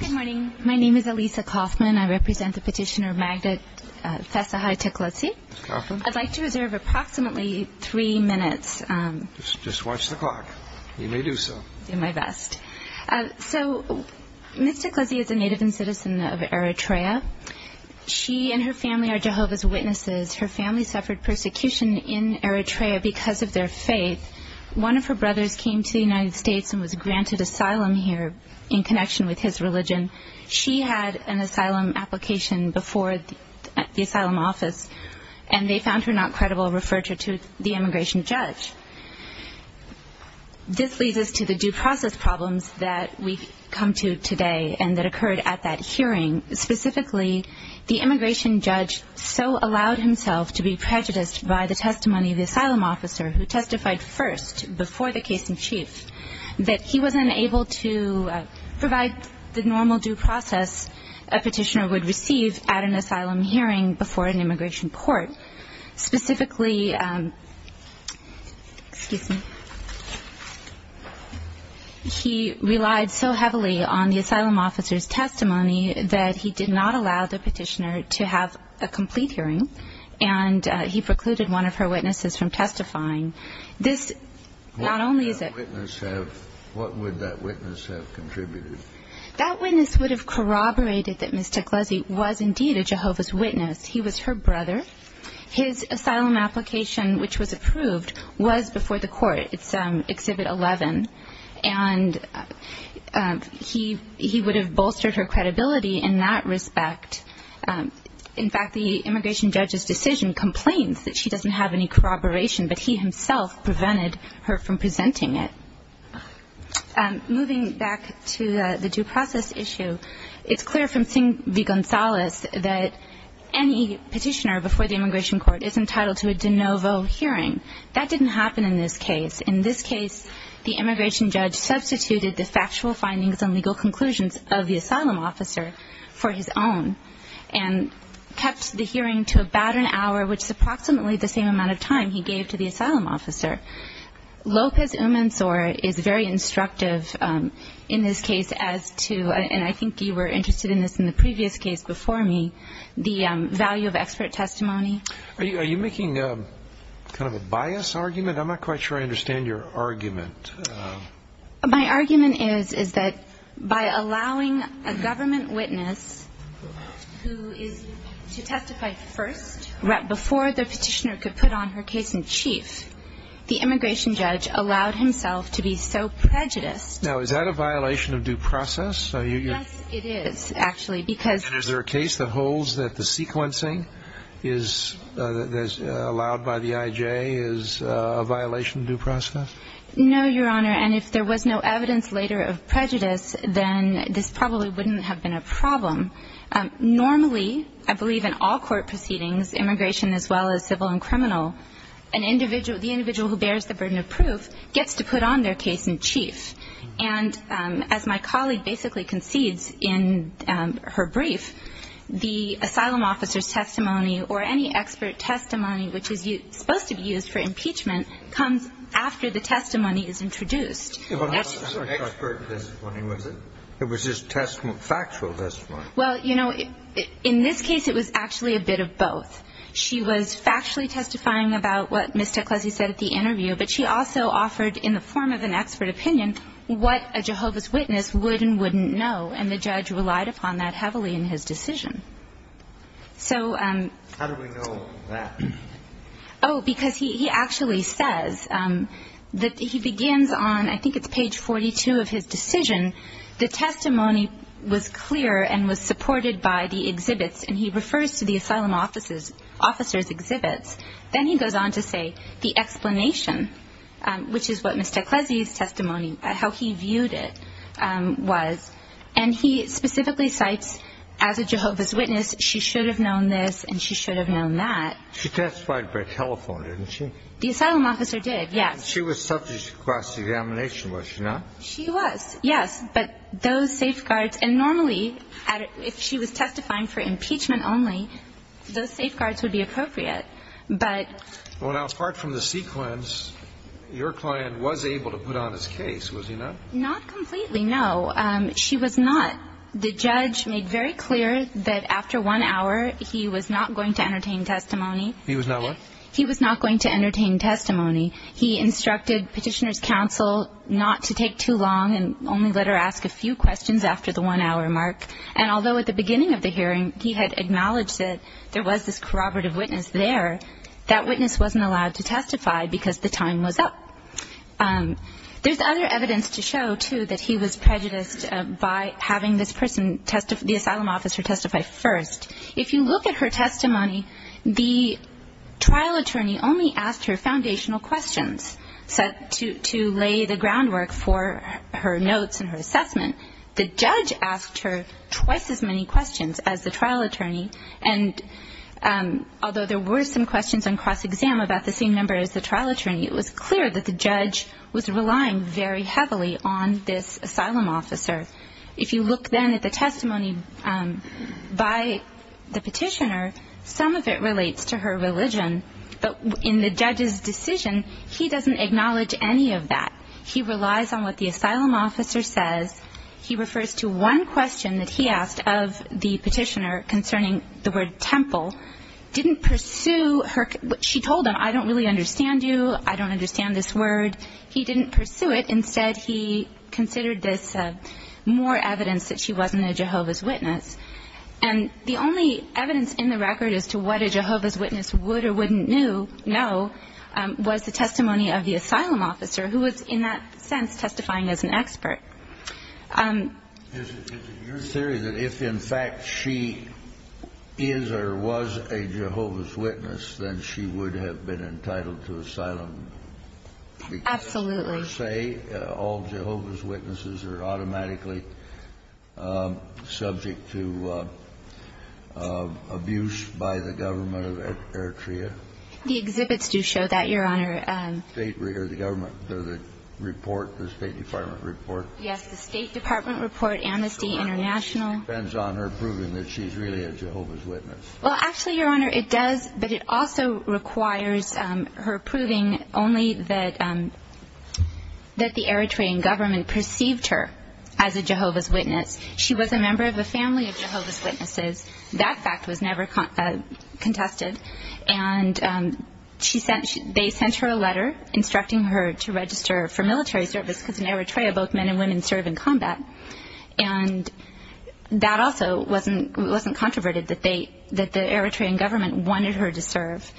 Good morning. My name is Elisa Kaufman. I represent the petitioner Magda Fessahai Teclezghi. I'd like to reserve approximately three minutes. Just watch the clock. You may do so. I'll do my best. So, Ms. Teclezghi is a native and citizen of Eritrea. She and her family are Jehovah's Witnesses. Her family suffered persecution in Eritrea because of their faith. One of her brothers came to the United States and was granted asylum here in connection with his religion. She had an asylum application before the asylum office, and they found her not credible and referred her to the immigration judge. This leads us to the due process problems that we've come to today and that occurred at that hearing. Specifically, the immigration judge so allowed himself to be prejudiced by the testimony of the asylum officer who testified first before the case in chief that he wasn't able to provide the normal due process a petitioner would receive at an asylum hearing before an immigration court. Specifically, he relied so heavily on the asylum officer's testimony that he did not allow the petitioner to have a complete hearing, and he precluded one of her witnesses from testifying. What would that witness have contributed? That witness would have corroborated that Ms. Teclezghi was indeed a Jehovah's Witness. He was her brother. His asylum application, which was approved, was before the court. It's Exhibit 11, and he would have bolstered her credibility in that respect. In fact, the immigration judge's decision complains that she doesn't have any corroboration, but he himself prevented her from presenting it. Moving back to the due process issue, it's clear from Singh v. Gonzales that any petitioner before the immigration court is entitled to a de novo hearing. That didn't happen in this case. In this case, the immigration judge substituted the factual findings and legal conclusions of the asylum officer for his own and kept the hearing to about an hour, which is approximately the same amount of time he gave to the asylum officer. Lopez-Umansor is very instructive in this case as to, and I think you were interested in this in the previous case before me, the value of expert testimony. Are you making kind of a bias argument? I'm not quite sure I understand your argument. My argument is that by allowing a government witness who is to testify first, before the petitioner could put on her case in chief, the immigration judge allowed himself to be so prejudiced. Now, is that a violation of due process? Yes, it is, actually, because And is there a case that holds that the sequencing allowed by the IJ is a violation of due process? No, Your Honor, and if there was no evidence later of prejudice, then this probably wouldn't have been a problem. Normally, I believe in all court proceedings, immigration as well as civil and criminal, the individual who bears the burden of proof gets to put on their case in chief. And as my colleague basically concedes in her brief, the asylum officer's testimony or any expert testimony which is supposed to be used for impeachment comes after the testimony is introduced. It wasn't expert testimony, was it? It was just factual testimony. Well, you know, in this case, it was actually a bit of both. She was factually testifying about what Ms. Teclesi said at the interview, but she also offered in the form of an expert opinion what a Jehovah's Witness would and wouldn't know, and the judge relied upon that heavily in his decision. How do we know that? Oh, because he actually says that he begins on, I think it's page 42 of his decision, the testimony was clear and was supported by the exhibits, and he refers to the asylum officer's exhibits. Then he goes on to say the explanation, which is what Ms. Teclesi's testimony, how he viewed it, was, and he specifically cites as a Jehovah's Witness she should have known this and she should have known that. She testified by telephone, didn't she? The asylum officer did, yes. She was subject to cross-examination, was she not? She was, yes, but those safeguards, and normally if she was testifying for impeachment only, those safeguards would be appropriate, but. Well, now, apart from the sequence, your client was able to put on his case, was he not? Not completely, no. She was not. The judge made very clear that after one hour he was not going to entertain testimony. He was not what? He was not going to entertain testimony. He instructed Petitioner's Counsel not to take too long and only let her ask a few questions after the one-hour mark, and although at the beginning of the hearing he had acknowledged that there was this corroborative witness there, that witness wasn't allowed to testify because the time was up. There's other evidence to show, too, that he was prejudiced by having this person, the asylum officer, testify first. If you look at her testimony, the trial attorney only asked her foundational questions to lay the groundwork for her notes and her assessment. The judge asked her twice as many questions as the trial attorney, and although there were some questions on cross-exam about the same number as the trial attorney, it was clear that the judge was relying very heavily on this asylum officer. If you look then at the testimony by the petitioner, some of it relates to her religion, but in the judge's decision, he doesn't acknowledge any of that. He relies on what the asylum officer says. He refers to one question that he asked of the petitioner concerning the word temple. Didn't pursue her. She told him, I don't really understand you. I don't understand this word. He didn't pursue it. Instead, he considered this more evidence that she wasn't a Jehovah's Witness. And the only evidence in the record as to what a Jehovah's Witness would or wouldn't know was the testimony of the asylum officer, who was in that sense testifying as an expert. Is it your theory that if in fact she is or was a Jehovah's Witness, then she would have been entitled to asylum? Absolutely. Because per se, all Jehovah's Witnesses are automatically subject to abuse by the government of Eritrea? The exhibits do show that, Your Honor. The government, the report, the State Department report? Yes, the State Department report, Amnesty International. So it depends on her proving that she's really a Jehovah's Witness. Well, actually, Your Honor, it does, but it also requires her proving only that the Eritrean government perceived her as a Jehovah's Witness. She was a member of a family of Jehovah's Witnesses. That fact was never contested. And they sent her a letter instructing her to register for military service because in Eritrea both men and women serve in combat. And that also wasn't controverted, that the Eritrean government wanted her to serve.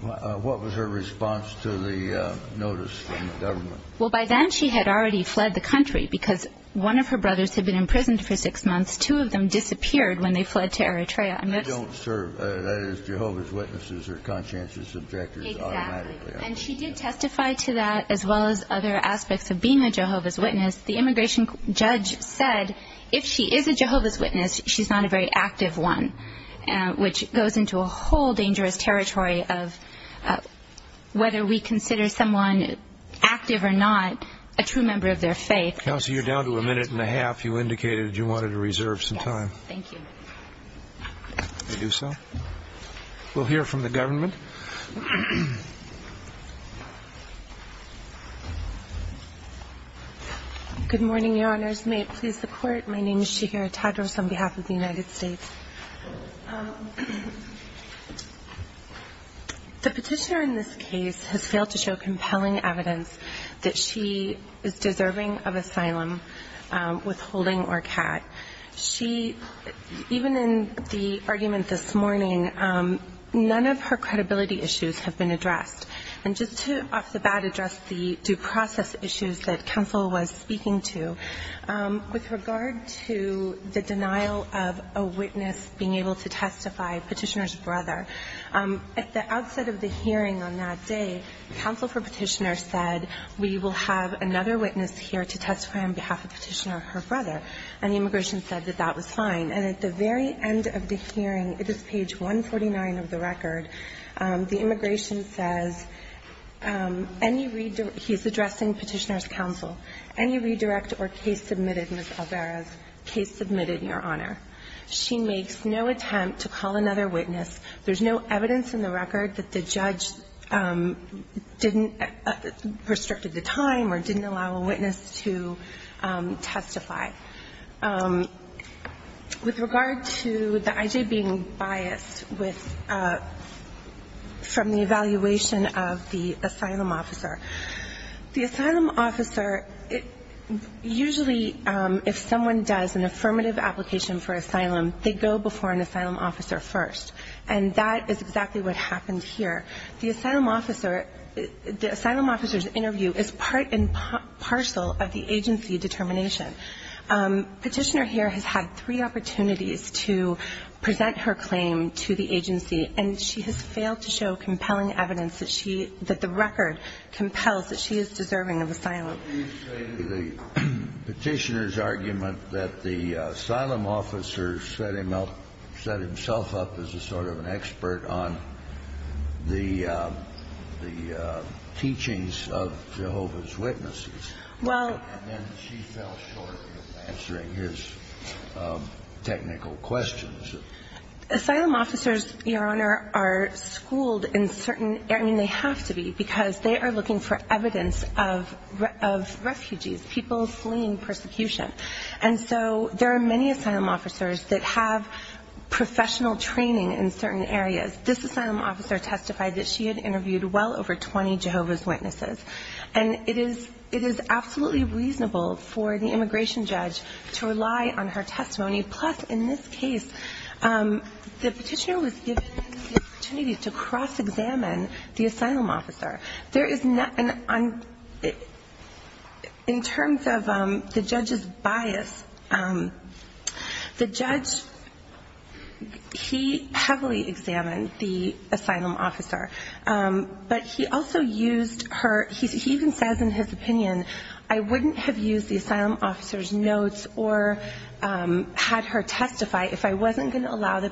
What was her response to the notice from the government? Well, by then she had already fled the country because one of her brothers had been imprisoned for six months. Two of them disappeared when they fled to Eritrea. They don't serve as Jehovah's Witnesses or conscientious objectors automatically. Exactly. And she did testify to that as well as other aspects of being a Jehovah's Witness. The immigration judge said if she is a Jehovah's Witness, she's not a very active one, which goes into a whole dangerous territory of whether we consider someone active or not a true member of their faith. Counsel, you're down to a minute and a half. You indicated you wanted to reserve some time. Yes, thank you. I do so. We'll hear from the government. Good morning, Your Honors. May it please the Court. My name is Shigeru Tadros on behalf of the United States. The petitioner in this case has failed to show compelling evidence that she is deserving of asylum, withholding, or CAT. She, even in the argument this morning, none of her credibility issues have been addressed. And just to off the bat address the due process issues that counsel was speaking to, with regard to the denial of a witness being able to testify, petitioner's brother, at the outset of the hearing on that day, counsel for petitioner said, we will have another witness here to testify on behalf of petitioner, her brother. And the immigration said that that was fine. And at the very end of the hearing, it is page 149 of the record, the immigration says, he's addressing petitioner's counsel, any redirect or case submitted, Ms. Alvarez, case submitted, Your Honor. She makes no attempt to call another witness. There's no evidence in the record that the judge didn't, restricted the time or didn't allow a witness to testify. With regard to the IJ being biased with, from the evaluation of the asylum officer, the asylum officer, usually if someone does an affirmative application for asylum, they go before an asylum officer first. And that is exactly what happened here. The asylum officer, the asylum officer's interview is part and parcel of the agency determination. Petitioner here has had three opportunities to present her claim to the agency, and she has failed to show compelling evidence that she, that the record compels that she is deserving of asylum. The petitioner's argument that the asylum officer set him up, set himself up as a sort of an expert on the, the teachings of Jehovah's Witnesses. Well. And then she fell short in answering his technical questions. Asylum officers, Your Honor, are schooled in certain, I mean they have to be, because they are looking for evidence of refugees, people fleeing persecution. And so there are many asylum officers that have professional training in certain areas. This asylum officer testified that she had interviewed well over 20 Jehovah's Witnesses. And it is, it is absolutely reasonable for the immigration judge to rely on her testimony. Plus, in this case, the petitioner was given the opportunity to cross-examine the asylum officer. There is not, in terms of the judge's bias, the judge, he heavily examined the asylum officer. But he also used her, he even says in his opinion, I wouldn't have used the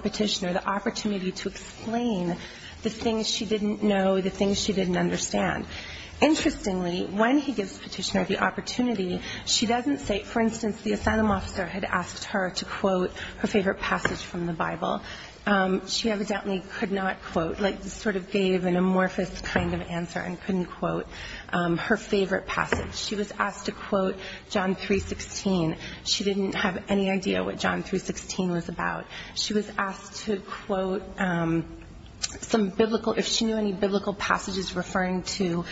petitioner, the opportunity to explain the things she didn't know, the things she didn't understand. Interestingly, when he gives the petitioner the opportunity, she doesn't say, for instance, the asylum officer had asked her to quote her favorite passage from the Bible. She evidently could not quote, like sort of gave an amorphous kind of answer and couldn't quote her favorite passage. She was asked to quote John 316. She didn't have any idea what John 316 was about. She was asked to quote some biblical, if she knew any biblical passages referring to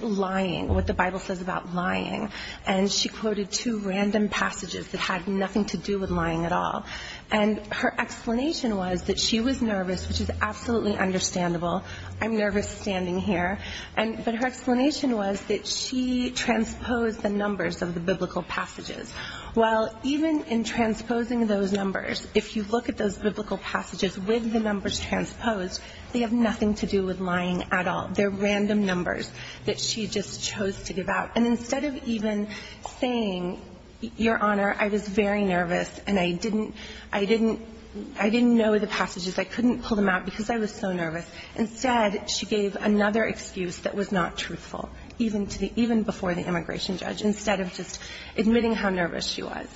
lying, what the Bible says about lying. And she quoted two random passages that had nothing to do with lying at all. And her explanation was that she was nervous, which is absolutely understandable. I'm nervous standing here. But her explanation was that she transposed the numbers of the biblical passages. Well, even in transposing those numbers, if you look at those biblical passages with the numbers transposed, they have nothing to do with lying at all. They're random numbers that she just chose to give out. And instead of even saying, Your Honor, I was very nervous and I didn't, I didn't know the passages. I couldn't pull them out because I was so nervous. Instead, she gave another excuse that was not truthful, even to the, even before the immigration judge, instead of just admitting how nervous she was.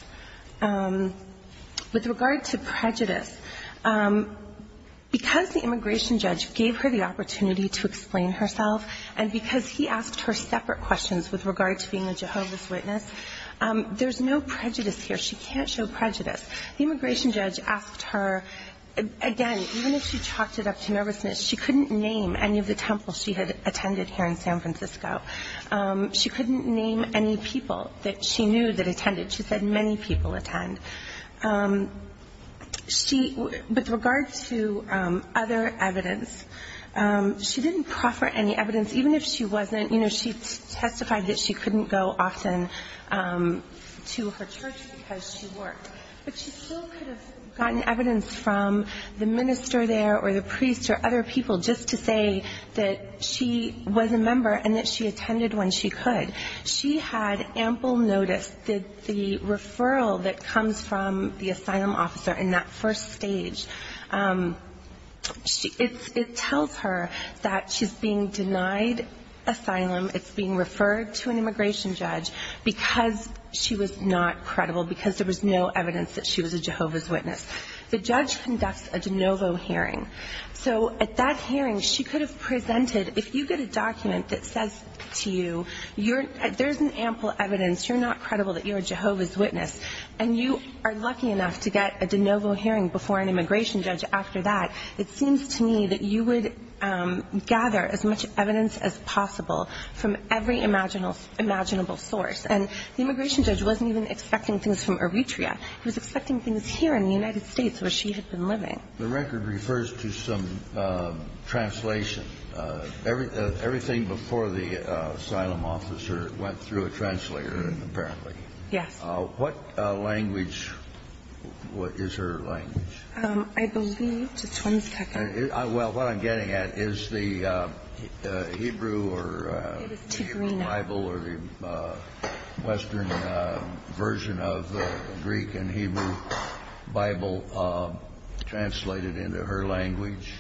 With regard to prejudice, because the immigration judge gave her the opportunity to explain herself and because he asked her separate questions with regard to being a Jehovah's Witness, there's no prejudice here. She can't show prejudice. The immigration judge asked her, again, even if she talked it up to nervousness, she couldn't name any of the temples she had attended here in San Francisco. She couldn't name any people that she knew that attended. She said many people attend. She, with regard to other evidence, she didn't proffer any evidence, even if she wasn't, you know, she testified that she couldn't go often to her church because she worked. But she still could have gotten evidence from the minister there or the priest or other people just to say that she was a member and that she attended when she could. She had ample notice that the referral that comes from the asylum officer in that first stage, it tells her that she's being denied asylum, it's being referred to an immigration judge. There was no evidence that she was a Jehovah's Witness. The judge conducts a de novo hearing. So at that hearing, she could have presented, if you get a document that says to you there's an ample evidence, you're not credible that you're a Jehovah's Witness, and you are lucky enough to get a de novo hearing before an immigration judge after that, it seems to me that you would gather as much evidence as possible from every imaginable source. And the immigration judge wasn't even expecting things from Eritrea. He was expecting things here in the United States where she had been living. The record refers to some translation. Everything before the asylum officer went through a translator, apparently. Yes. What language is her language? I believe, just one second. Well, what I'm getting at is the Hebrew Bible or the... Western version of the Greek and Hebrew Bible translated into her language.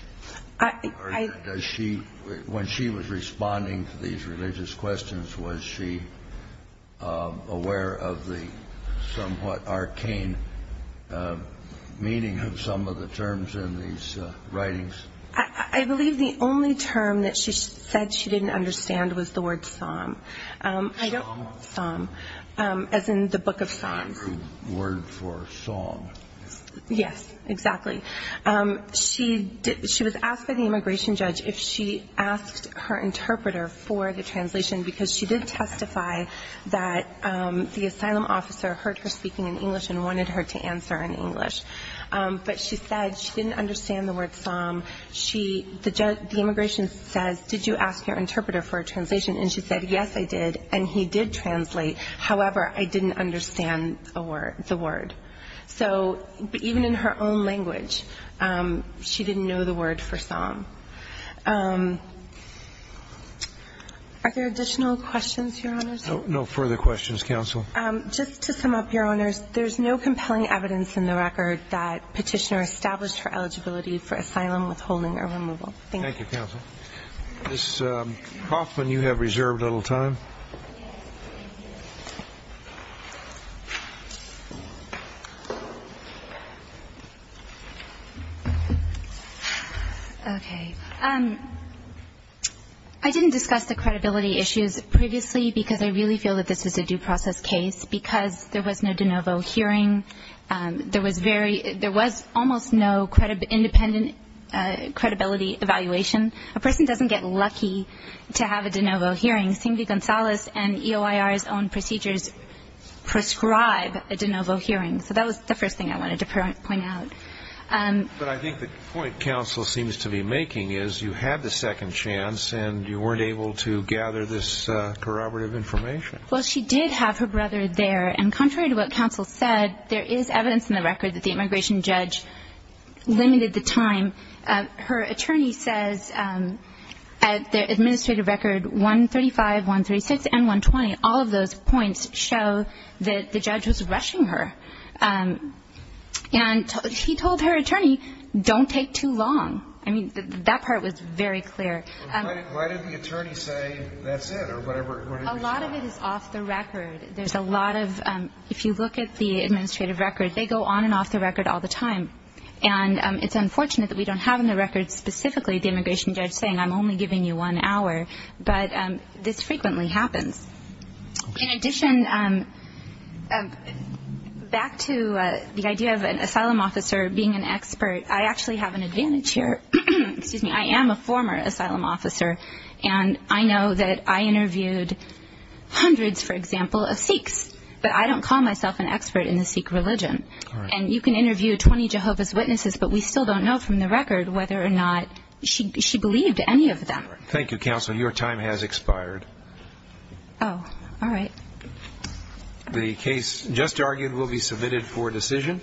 When she was responding to these religious questions, was she aware of the somewhat arcane meaning of some of the terms in these writings? I believe the only term that she said she didn't understand was the word psalm. Psalm? Psalm. As in the book of Psalms. The Hebrew word for psalm. Yes, exactly. She was asked by the immigration judge if she asked her interpreter for the translation because she did testify that the asylum officer heard her speaking in English and wanted her to answer in English. But she said she didn't understand the word psalm. The immigration says, did you ask your interpreter for a translation? And she said, yes, I did, and he did translate. However, I didn't understand the word. So even in her own language, she didn't know the word for psalm. Are there additional questions, Your Honors? No further questions, Counsel. Just to sum up, Your Honors, there's no compelling evidence in the record that Petitioner established her eligibility for asylum withholding or removal. Thank you. Thank you, Counsel. Ms. Hoffman, you have reserved a little time. Okay. I didn't discuss the credibility issues previously because I really feel that this was a due process case because there was no de novo hearing. There was almost no independent credibility evaluation. A person doesn't get lucky to have a de novo hearing. Cindy Gonzalez and EOIR's own procedures prescribe a de novo hearing. So that was the first thing I wanted to point out. But I think the point Counsel seems to be making is you had the second chance and you weren't able to gather this corroborative information. Well, she did have her brother there. And contrary to what Counsel said, there is evidence in the record that the immigration judge limited the time. Her attorney says at the administrative record 135, 136, and 120, all of those points show that the judge was rushing her. And he told her attorney, don't take too long. I mean, that part was very clear. Why didn't the attorney say that's it or whatever? A lot of it is off the record. There's a lot of – if you look at the administrative record, they go on and off the record all the time. And it's unfortunate that we don't have in the record specifically the immigration judge saying, I'm only giving you one hour. But this frequently happens. In addition, back to the idea of an asylum officer being an expert, I actually have an advantage here. Excuse me. I am a former asylum officer. And I know that I interviewed hundreds, for example, of Sikhs. But I don't call myself an expert in the Sikh religion. And you can interview 20 Jehovah's Witnesses, but we still don't know from the record whether or not she believed any of them. Thank you, Counsel. Your time has expired. Oh, all right. The case just argued will be submitted for decision.